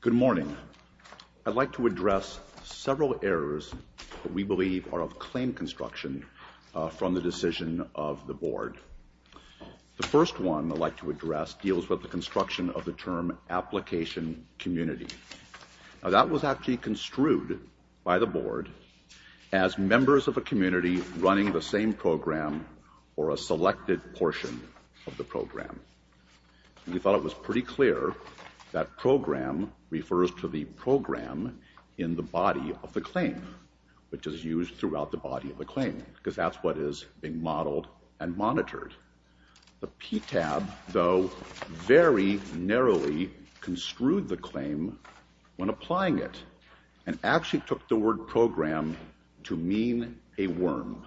Good morning. I'd like to address several errors that we believe are of claim construction from the decision of the Board. The first one I'd like to address deals with the construction of the term application community. Now that was actually construed by the Board as members of a community running the same program or a selected portion of the program. We thought it was pretty clear that program refers to the program in the body of the claim, which is used throughout the body of the claim because that's what is being modeled and monitored. The PTAB, though, very narrowly construed the claim when applying it and actually took the word program to mean a worm.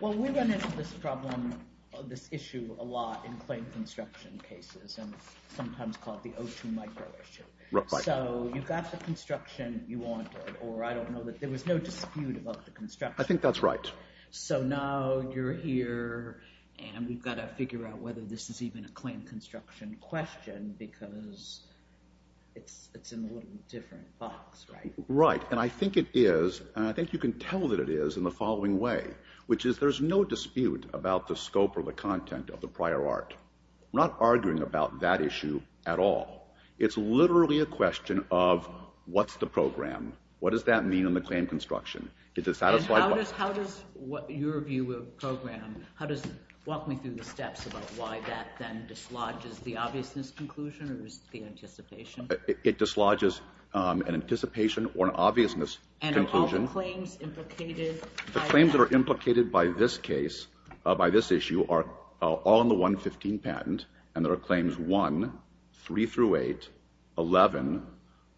Well, we run into this problem, this issue a lot in claim construction cases and sometimes called the O2 micro issue. So you got the construction you wanted or I don't know that there was no dispute about the construction. I think that's right. So now you're here and we've got to figure out whether this is even a claim construction question because it's in a little different box, right? Right. And I think it is. And I think you can tell that it is in the following way, which is there's no dispute about the scope or the content of the prior art. We're not arguing about that issue at all. It's literally a question of what's the program? What does that mean in the claim construction? Is it satisfied? And how does your view of program, how does it walk me through the steps about why that then dislodges the obviousness conclusion or is it the anticipation? It dislodges an anticipation or an obviousness conclusion. And all the claims implicated? The claims that are implicated by this case, by this issue, are all in the 115 patent and there are claims 1, 3 through 8, 11,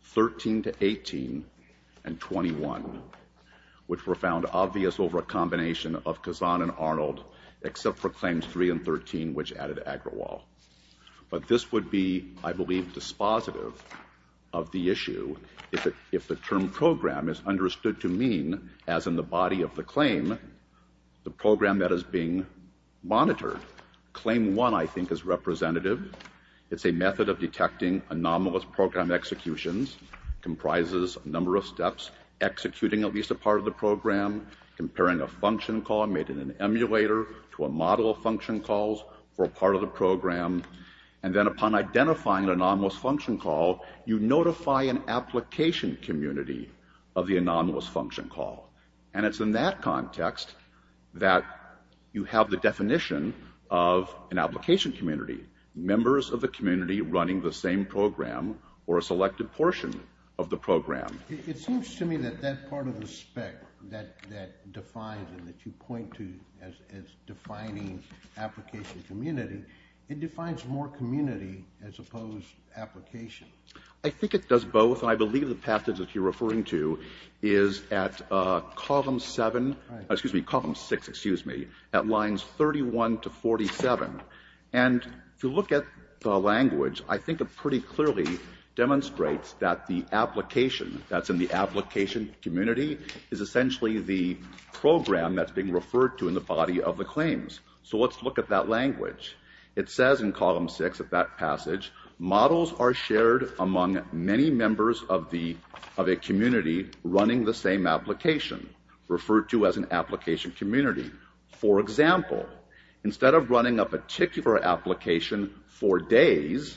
13 to 18, and 21, which were found obvious over a combination of Kazan and Arnold, except for claims 3 and 13, which added Agrawal. But this would be, I believe, dispositive of the issue if the term program is understood to mean, as in the body of the claim, the program that is being monitored. Claim 1, I think, is representative. It's a method of detecting anomalous program executions, comprises a number of steps, executing at least a part of the program, comparing a function call made in an emulator to a model of function calls for a part of the program, and then upon identifying an anomalous function call, you notify an application community of the anomalous function call. And it's in that context that you have the definition of an application community, members of the community running the same program or a selected portion of the program. It seems to me that that part of the spec that defines it, that you point to as defining application community, it defines more community as opposed to application. I think it does both. I believe the path that you're referring to is at column 7, excuse me, at lines 31 to 47. And if you look at the language, I think it pretty clearly demonstrates that the application that's in the application community is essentially the program that's being referred to in the body of the claims. So let's look at that language. It says in column 6 of that passage, models are shared among many members of a community running the same application, referred to as an application community. For example, instead of running a particular application for days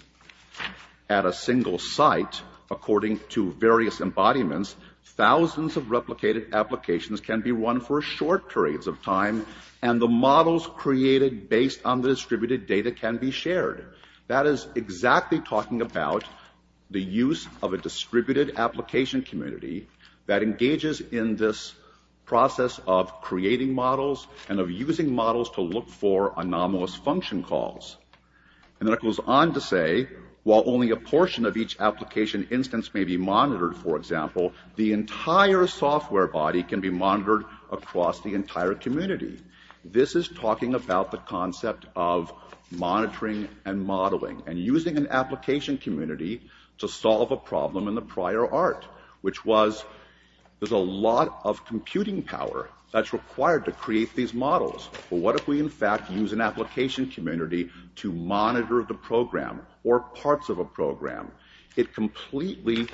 at a single site, according to various embodiments, thousands of replicated applications can be run for short periods of time, and the models created based on the distributed data can be shared. That is exactly talking about the use of a community that engages in this process of creating models and of using models to look for anomalous function calls. And then it goes on to say, while only a portion of each application instance may be monitored, for example, the entire software body can be monitored across the entire community. This is talking about the concept of monitoring and modeling and using an application community to solve a problem in the prior art, which was there's a lot of computing power that's required to create these models. But what if we in fact use an application community to monitor the program or parts of a program? It completely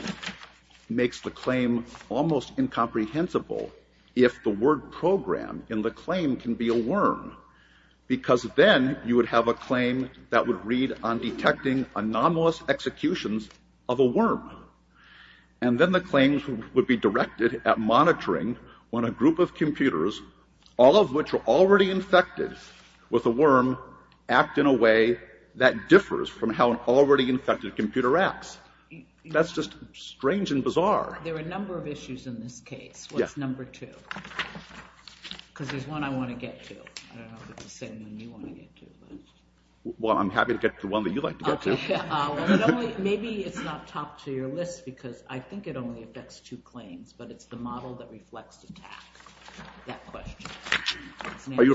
makes the claim almost incomprehensible if the word program in the claim can be a worm, because then you would have a claim that would read on detecting anomalous executions of a worm. And then the claims would be directed at monitoring when a group of computers, all of which are already infected with a worm, act in a way that differs from how an already infected computer acts. That's just strange and bizarre. There are a number of issues in this case. What's number two? Because there's one I want to get to. I don't know if it's the same one you want to get to. Well, I'm happy to get to one that you'd like to get to. Maybe it's not top to your list, because I think it only affects two claims, but it's the model that reflects the task. That question. Are you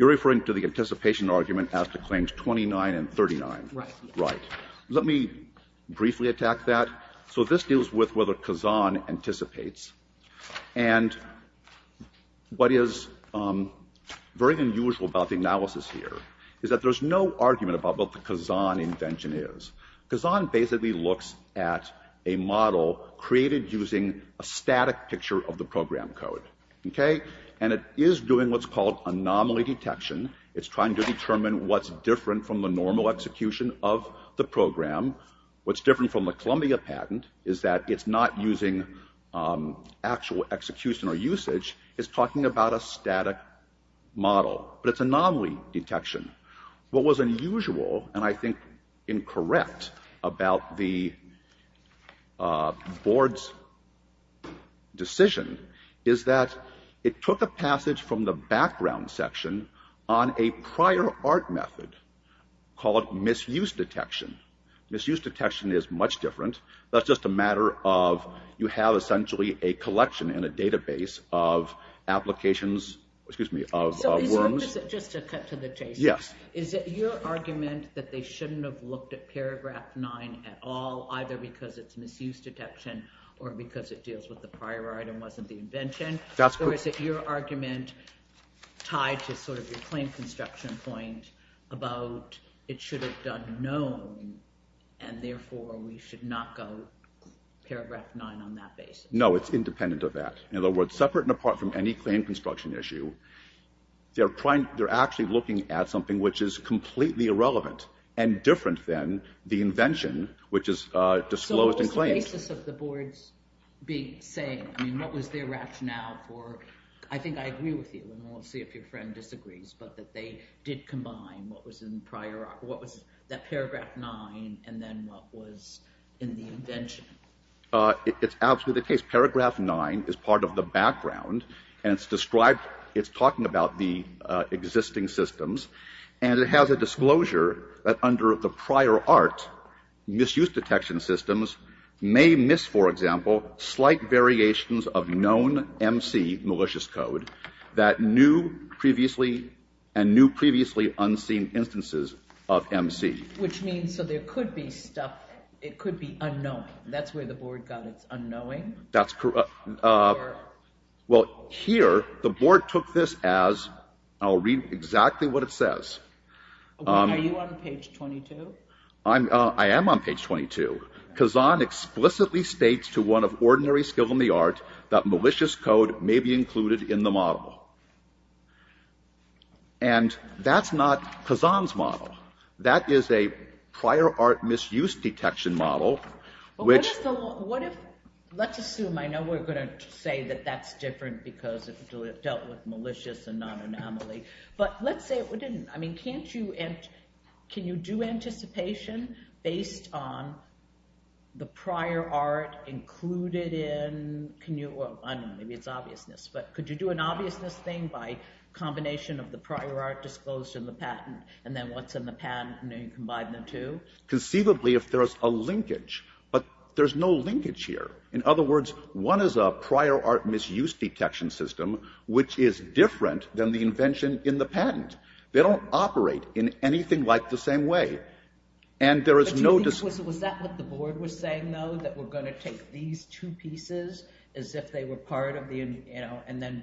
referring to the anticipation argument after claims 29 and 39? Right. Let me briefly attack that. So this deals with whether Kazan anticipates. And what is very unusual about the analysis here is that there's no argument about what the Kazan invention is. Kazan basically looks at a model created using a static picture of the program code. And it is doing what's called anomaly detection. It's trying to determine what's different from the normal execution of the program. What's different from the Columbia patent is that it's not using actual execution or usage. It's talking about a static model. But it's anomaly detection. What was unusual, and I think incorrect, about the board's decision is that it took a passage from the background section on a prior art method called misuse detection. Misuse detection is much different. That's just a matter of you have essentially a collection in a database of applications of worms. So just to cut to the chase, is it your argument that they shouldn't have looked at paragraph 9 at all, either because it's misuse detection or because it deals with the prior item, wasn't the invention? Or is it your argument tied to sort of your claim construction point about it should have done known, and therefore we should not go paragraph 9 on that basis? No, it's independent of that. In other words, separate and apart from any claim construction issue, they're actually looking at something which is completely irrelevant and different than the invention, which is disclosed and claimed. On the basis of the board's big saying, I mean, what was their rationale for, I think I agree with you, and we'll see if your friend disagrees, but that they did combine what was in the prior, what was that paragraph 9, and then what was in the invention? It's absolutely the case. Paragraph 9 is part of the background, and it's described, it's talking about the existing systems, and it has a disclosure that under the prior art misuse detection systems may miss, for example, slight variations of known MC malicious code that knew previously, and knew previously unseen instances of MC. Which means, so there could be stuff, it could be unknowing. That's where the board got its unknowing? That's correct. Well, here, the board took this as, I'll read exactly what it says. Are you on page 22? I am on page 22. Kazan explicitly states to one of ordinary skill in the art that malicious code may be included in the model. And that's not Kazan's model. That is a prior art misuse detection model, which Well, what if, let's assume, I know we're going to say that that's different because it dealt with malicious and non-anomaly, but let's say it didn't. I mean, can't you, can you do anticipation based on the prior art included in, can you, well, I don't know, maybe it's obviousness, but could you do an obviousness thing by combination of the prior art disclosed in the patent, and then what's in the patent, and then you combine the two? Conceivably if there's a linkage, but there's no linkage here. In other words, one is a prior art misuse detection system, which is different than the invention in the patent. They don't operate in anything like the same way. And there is no But do you think, was that what the board was saying, though, that we're going to take these two pieces as if they were part of the, you know, and then,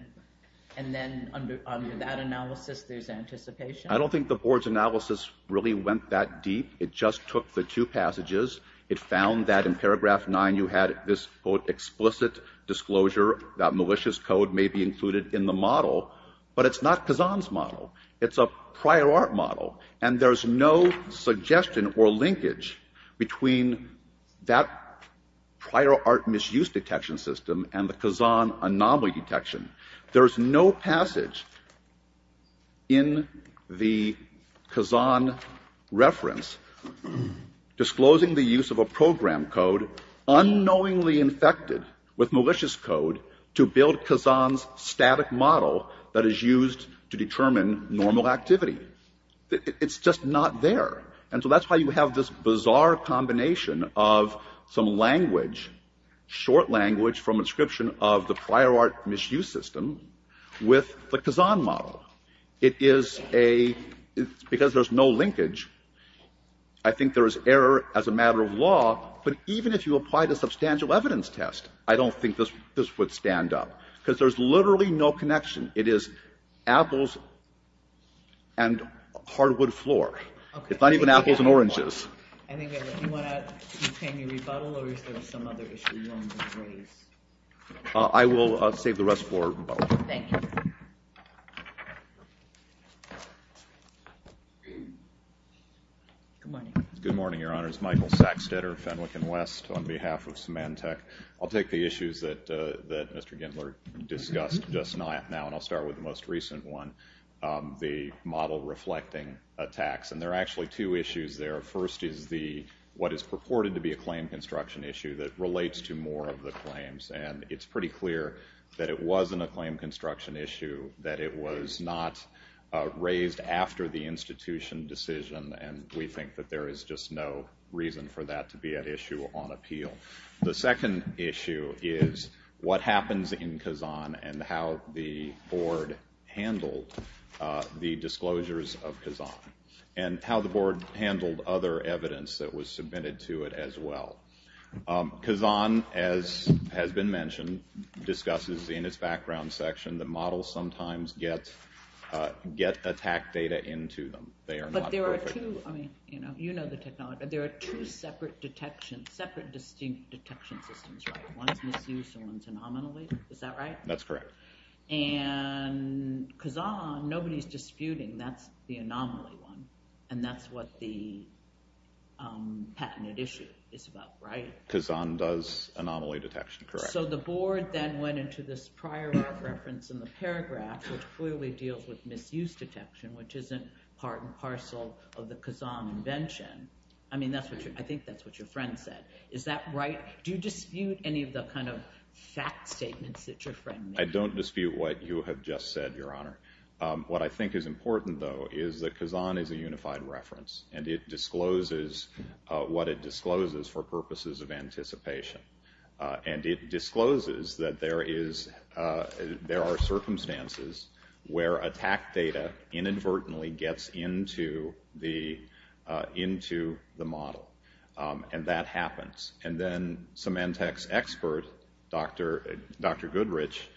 and then under that analysis there's anticipation? I don't think the board's analysis really went that deep. It just took the two passages. It found that in paragraph 9 you had this, quote, explicit disclosure that malicious code may be included in the model, but it's not Kazan's model. It's a prior art model. And there's no suggestion or linkage between that prior art misuse detection system and the Kazan anomaly detection. There's no passage in the Kazan reference disclosing the use of a program code unknowingly infected with malicious code to build Kazan's static model that is used to determine normal activity. It's just not there. And so that's why you have this bizarre combination of some language, short language from inscription of the prior art misuse system with the Kazan model. It is a, because there's no linkage, I think there is error as a matter of law, but even if you applied a substantial evidence test, I don't think this would stand up, because there's literally no connection. It is apples and hardwood floor. It's not even apples and oranges. Do you want to continue rebuttal or is there some other issue you want to raise? I will save the rest for rebuttal. Good morning, Your Honors. Michael Saxtetter, Fenwick & West, on behalf of Symantec. I'll take the issues that Mr. Gendler discussed just now and I'll start with the most recent one, the model reflecting attacks. And there are actually two issues there. First is what is purported to be a claim construction issue that relates to more of the claims. And it's pretty clear that it wasn't a claim construction issue, that it was not raised after the institution decision and we think that there is just no reason for that to be an issue on appeal. The second issue is what happens in Kazan and how the board handled the disclosures of Kazan and how the board handled other evidence that was submitted to it as well. Kazan, as has been mentioned, discusses in its background section that models sometimes get attack data into them. You know the technology, but there are two separate distinct detection systems, right? One is misuse and one is anomaly, is that right? That's correct. And Kazan, nobody is disputing, that's the anomaly one and that's what the patent issue is about, right? Kazan does anomaly detection, correct. So the board then went into this prior reference in the paragraph which clearly deals with misuse detection, which isn't part and parcel of the Kazan invention. I mean, I think that's what your friend said. Is that right? Do you dispute any of the kind of fact statements that your friend made? I don't dispute what you have just said, Your Honor. What I think is important, though, is that Kazan does misuse detection. And it discloses that there are circumstances where attack data inadvertently gets into the model. And that happens. And then Symantec's expert, Dr. Goodrich,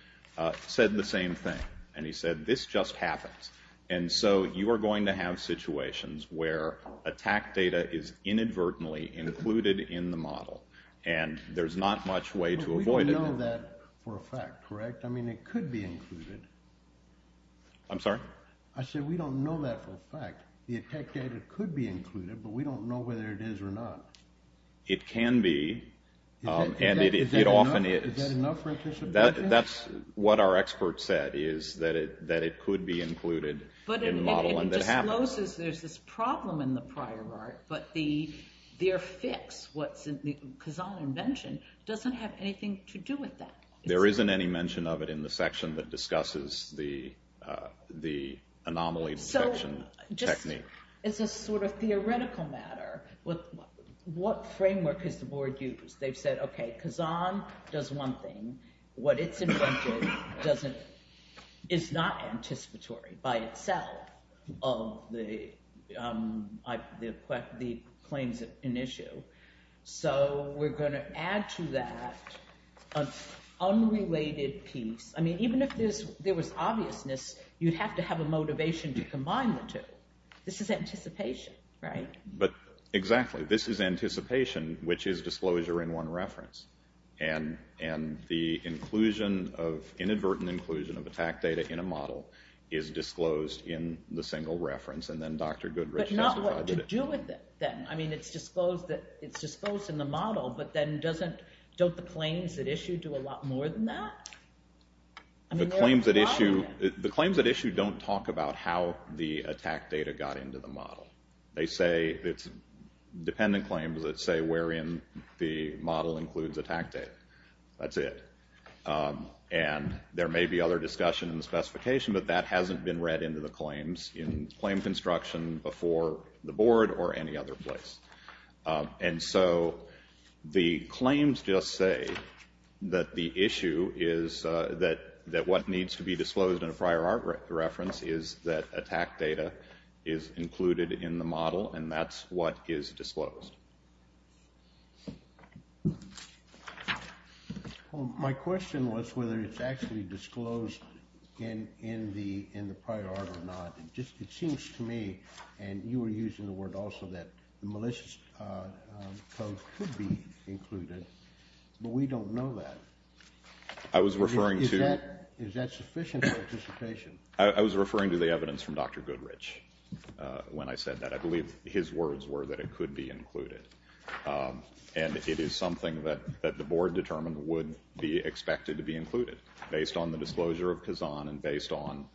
said the same thing. And he said, this just happens. And so you are going to have situations where attack data is inadvertently included in the model. And there's not much way to avoid it. But we don't know that for a fact, correct? I mean, it could be included. I'm sorry? I said we don't know that for a fact. The attack data could be included, but we don't know whether it is or not. It can be. And it often is. Is that enough for a disappointment? That's what our expert said, is that it could be included in the model and that happens. But it discloses there's this problem in the Kazan invention. It doesn't have anything to do with that. There isn't any mention of it in the section that discusses the anomaly detection technique. It's a sort of theoretical matter. What framework has the board used? They've said, okay, Kazan does one thing. What it's invented is not anticipatory by itself of the claims at issue. So we're going to have to figure out how we're going to add to that an unrelated piece. I mean, even if there was obviousness, you'd have to have a motivation to combine the two. This is anticipation, right? But exactly. This is anticipation, which is disclosure in one reference. And the inclusion of, inadvertent inclusion of attack data in a model is disclosed in the single reference and then Dr. Goodrich specified it. But not what to do with it, then. I mean, it's disclosed in the model, but then doesn't, don't the claims at issue do a lot more than that? The claims at issue don't talk about how the attack data got into the model. They say, it's dependent claims that say wherein the model includes attack data. That's it. And there may be other discussion in the specification, but that hasn't been read into the claims. It's in claim construction before the board or any other place. And so the claims just say that the issue is that, that what needs to be disclosed in a prior art reference is that attack data is included in the model and that's what is disclosed. My question was whether it's actually disclosed in, in the, in the prior art or not. It just, it seems to me, and you were using the word also, that malicious code could be included, but we don't know that. I was referring to. Is that, is that sufficient participation? I was referring to the evidence from Dr. Goodrich when I said that. I believe his words were that it could be included. And it is something that, that the board determined would be expected to be included based on the disclosure of Kazan and based on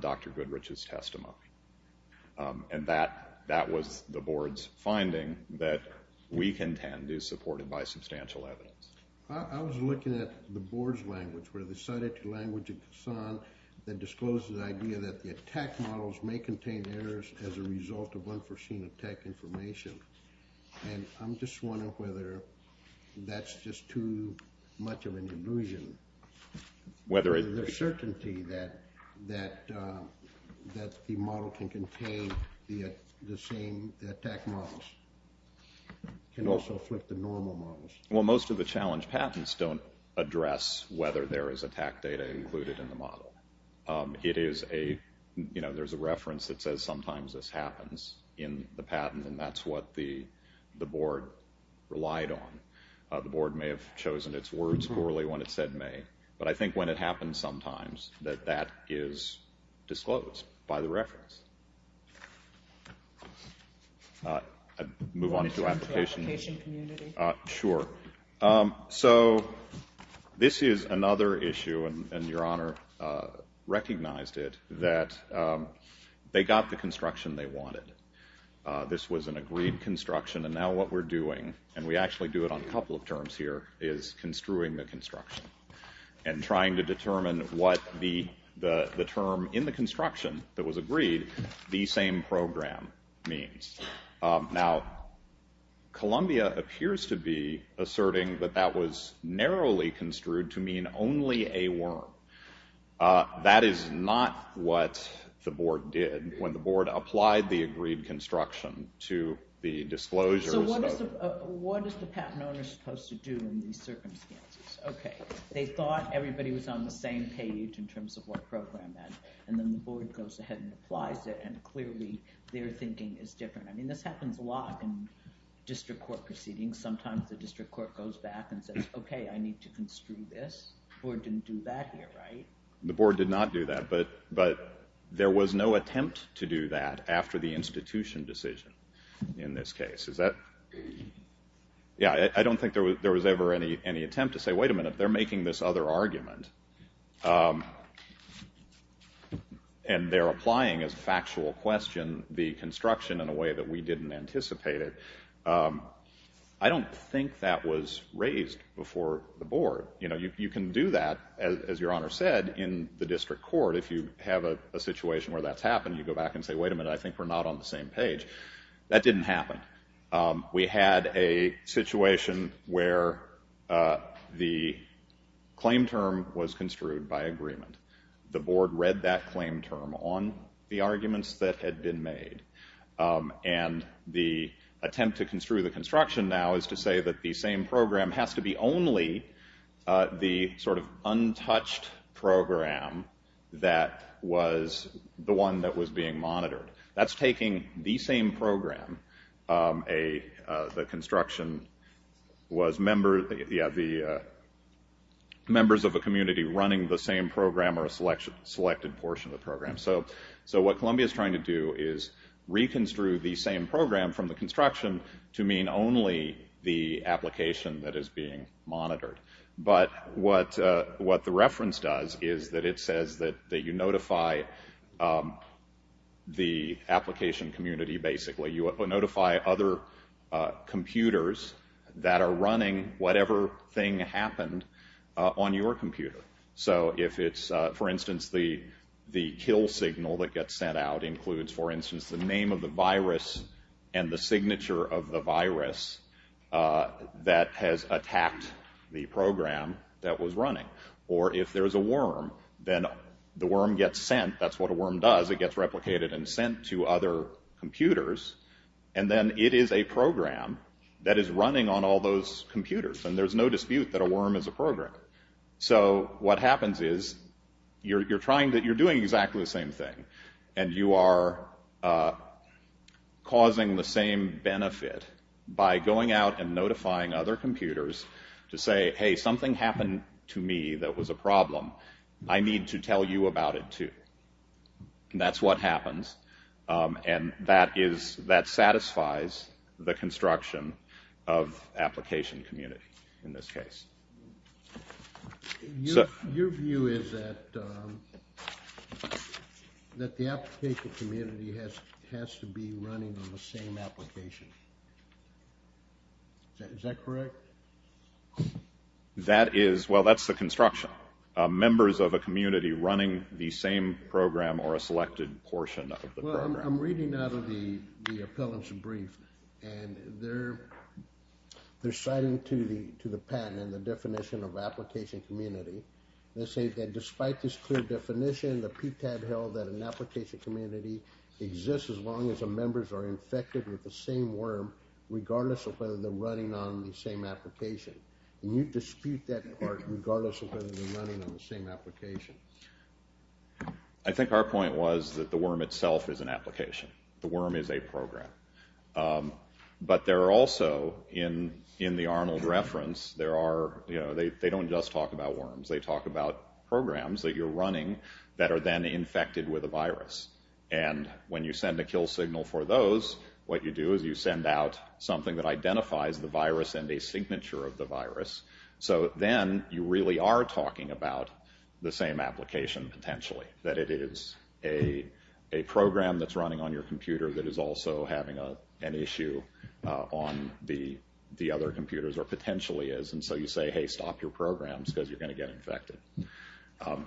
Dr. Goodrich's testimony. And that, that was the board's finding that we contend is supported by substantial evidence. I was looking at the board's language where they cited the language of Kazan that discloses the idea that the attack models may contain errors as a result of unforeseen attack information. And I'm just wondering whether that's just too much of an illusion. Whether it. There's certainty that, that, that the model can contain the, the same attack models. Can also flip the normal models. Well, most of the challenge patents don't address whether there is attack data included in the model. It is a, you know, there's a reference that says sometimes this happens in the patent, and that's what the, the board relied on. The board may have chosen its words poorly when it said may. But I think when it happens sometimes, that that is disclosed by the reference. Move on to application. Application community. Sure. So, this is another issue, and, and Your Honor recognized it, that they got the construction they wanted. This was an agreed construction, and now what we're doing, and we actually do it on a couple of terms here, is construing the construction. And trying to determine what the, the, the term in the construction that was agreed, the same program means. Now, Columbia appears to be asserting that that was narrowly construed to mean only a worm. That is not what the board did when the board applied the agreed construction to the disclosures that were. So what is the, what is the patent owner supposed to do in these circumstances? Okay, they thought everybody was on the same page in terms of what program meant, and then the board goes ahead and applies it, and clearly their thinking is different. I mean, this happens a lot in district court proceedings. Sometimes the district court goes back and says, okay, I need to construe this. The board didn't do that here, right? The board did not do that, but, but there was no attempt to do that after the institution decision in this case. Is that, yeah, I don't think there was, there was ever any, any attempt to say, wait a minute, they're making this other argument, and they're applying as a factual question the construction in a way that we didn't anticipate it. I don't think that was raised before the board. You know, you, you can do that, as, as your honor said, in the district court, if you have a, a situation where that's happened, you go back and say, wait a minute, I think we're not on the same page. That didn't happen. We had a situation where the claim term was construed by agreement. The board read that claim term on the arguments that had been made, and the attempt to construe the construction now is to say that the same program has to be only the sort of untouched program that was the one that was being monitored. That's taking the same program, a, the construction was member, yeah, the members of a community running the same program or a selection, selected portion of the program. So, so what Columbia's trying to do is reconstruct the same program from the construction to mean only the application that is being monitored. But what, what the reference does is that it says that, that you notify the application community, basically. You notify other computers that are running whatever thing happened on your computer. So if it's, for instance, the, the kill signal that gets sent out includes, for instance, the name of the virus and the signature of the virus that has attacked the program that was running. Or if there's a worm, then the worm gets sent, that's what a worm does, it gets replicated and sent to other computers, and then it is a program that is running on all those computers. And there's no dispute that a worm is a program. So what happens is you're, you're trying to, you're doing exactly the same thing. And you are causing the same benefit by going out and notifying other computers to say, hey, something happened to me that was a problem. I need to tell you about it too. And that's what happens. And that is, that satisfies the construction of application community in this case. Your view is that, that the application community has to be running on the same application. Is that correct? That is, well, that's the construction. Members of a community running the same program or a selected portion of the program. I'm reading out of the appellant's brief and they're, they're citing to the patent and the definition of application community. They say that despite this clear definition, the PTAB held that an application community exists as long as the members are infected with the same worm, regardless of whether they're running on the same application. And you dispute that part regardless of whether they're running on the same application. I think our point was that the worm itself is an application. The worm is a program. But there are also, in the Arnold reference, there are, you know, they don't just talk about worms. They talk about programs that you're running that are then infected with a virus. And when you send a kill signal for those, what you do is you send out something that identifies the virus and a signature of the virus. So then you really are talking about the same application potentially. That it is a program that's running on your computer that is also having an issue on the other computers or potentially is. And so you say, hey, stop your programs because you're going to get infected.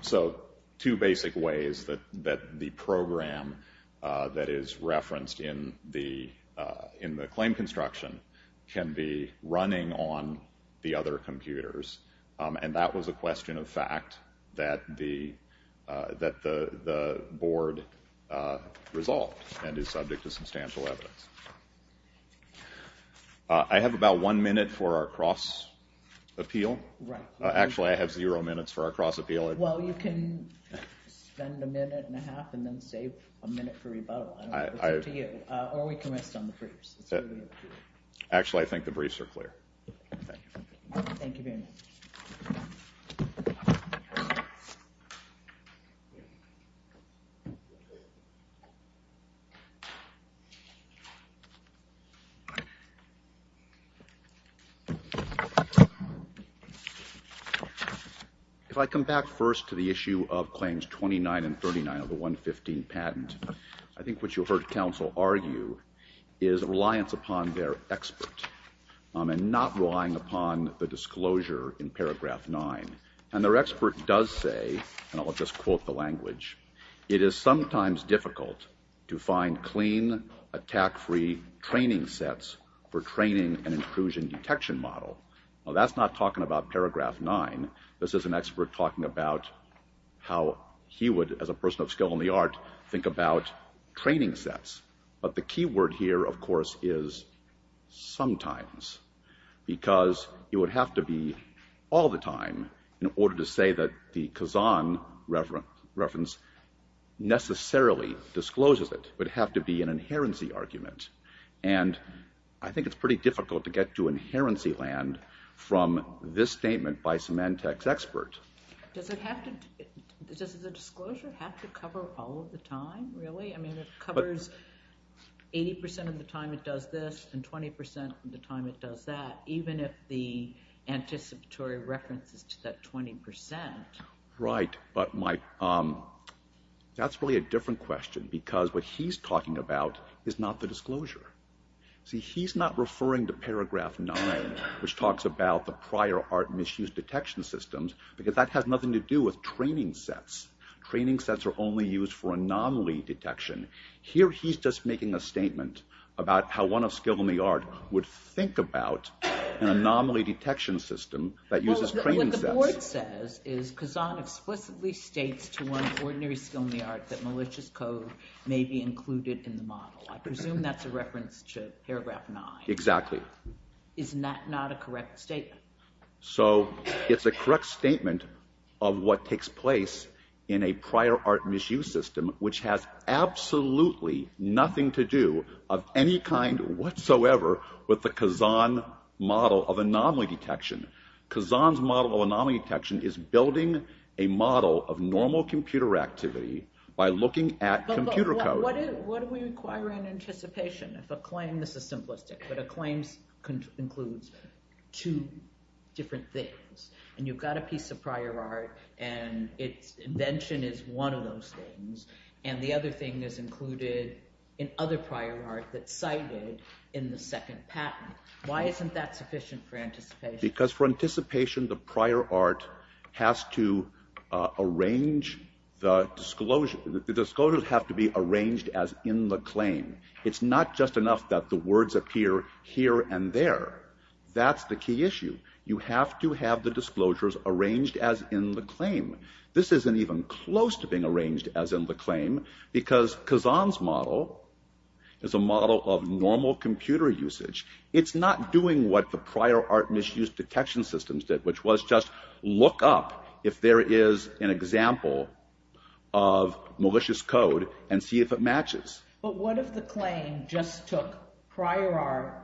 So two basic ways that the program that is referenced in the claim construction can be running on the other computers. And that was a question of fact that the board resolved and is subject to substantial evidence. I have about one minute for our cross-appeal. Actually, I have zero minutes for our cross-appeal. Well, you can spend a minute and a half and then save a minute for rebuttal. I don't know. It's up to you. Or we can rest on the briefs. Actually, I think the briefs are clear. If I come back first to the issue of claims 29 and 39 of the 115 patent, I think what you heard counsel argue is a reliance upon their expert and not relying upon the disclosure in paragraph 9. And their expert does say, and I'll just quote the language, it is sometimes difficult to find clean, attack-free training sets for training an intrusion detection model. Well, that's not talking about paragraph 9. This is an expert talking about how he would, as a person of skill in the art, think about training sets. But the key word here, of course, is sometimes. Because it would have to be all the time in order to say that the Kazan reference necessarily discloses it. It would have to be an inherency argument. And I think it's pretty difficult to get to inherency land from this statement by Symantec's expert. Does the disclosure have to cover all of the time, really? I mean, it covers 80% of the time it does this and 20% of the time it does that, even if the anticipatory reference is to that 20%. Right. But that's really a different question. Because what he's talking about is not the disclosure. See, he's not referring to paragraph 9, which talks about the prior art misused detection systems, because that has nothing to do with training sets. Training sets are only used for anomaly detection. Here he's just making a statement about how one of skill in the art would think about an anomaly detection system that uses training sets. What the board says is Kazan explicitly states to one of ordinary skill in the art that malicious code may be included in the model. I presume that's a reference to paragraph 9. Exactly. Isn't that not a correct statement? So it's a correct statement of what takes place in a prior art misuse system, which has absolutely nothing to do of any kind whatsoever with the Kazan model of anomaly detection. Kazan's model of anomaly detection is building a model of normal computer activity by looking at computer code. But what do we require in anticipation? This is simplistic, but a claim includes two different things. And you've got a piece of prior art, and its invention is one of those things, and the other thing is included in other prior art that's cited in the second patent. Why isn't that sufficient for anticipation? Because for anticipation, the prior art has to arrange the disclosure. The disclosures have to be arranged as in the claim. It's not just enough that the words appear here and there. That's the key issue. You have to have the disclosures arranged as in the claim. This isn't even close to being arranged as in the claim because Kazan's model is a model of normal computer usage. It's not doing what the prior art misused detection systems did, which was just look up if there is an example of malicious code and see if it matches. But what if the claim just took prior art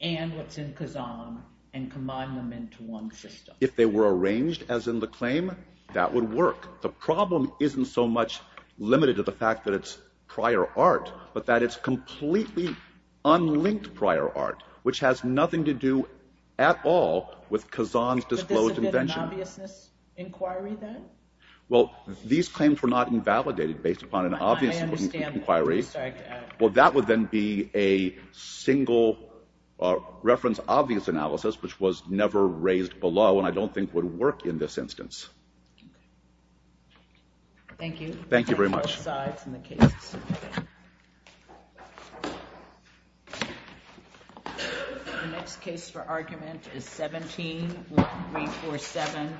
and what's in Kazan and combined them into one system? If they were arranged as in the claim, that would work. The problem isn't so much limited to the fact that it's prior art, but that it's completely unlinked prior art, which has nothing to do at all with Kazan's disclosed invention. But isn't it an obviousness inquiry then? Well, these claims were not invalidated based upon an obviousness inquiry. I understand that. Well, that would then be a single reference obvious analysis, which was never raised below and I don't think would work in this instance. Thank you. Thank you very much. Thank you both sides and the cases. The next case for argument is 17-1347,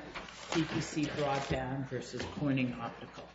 CPC Broadband versus Corning Optical.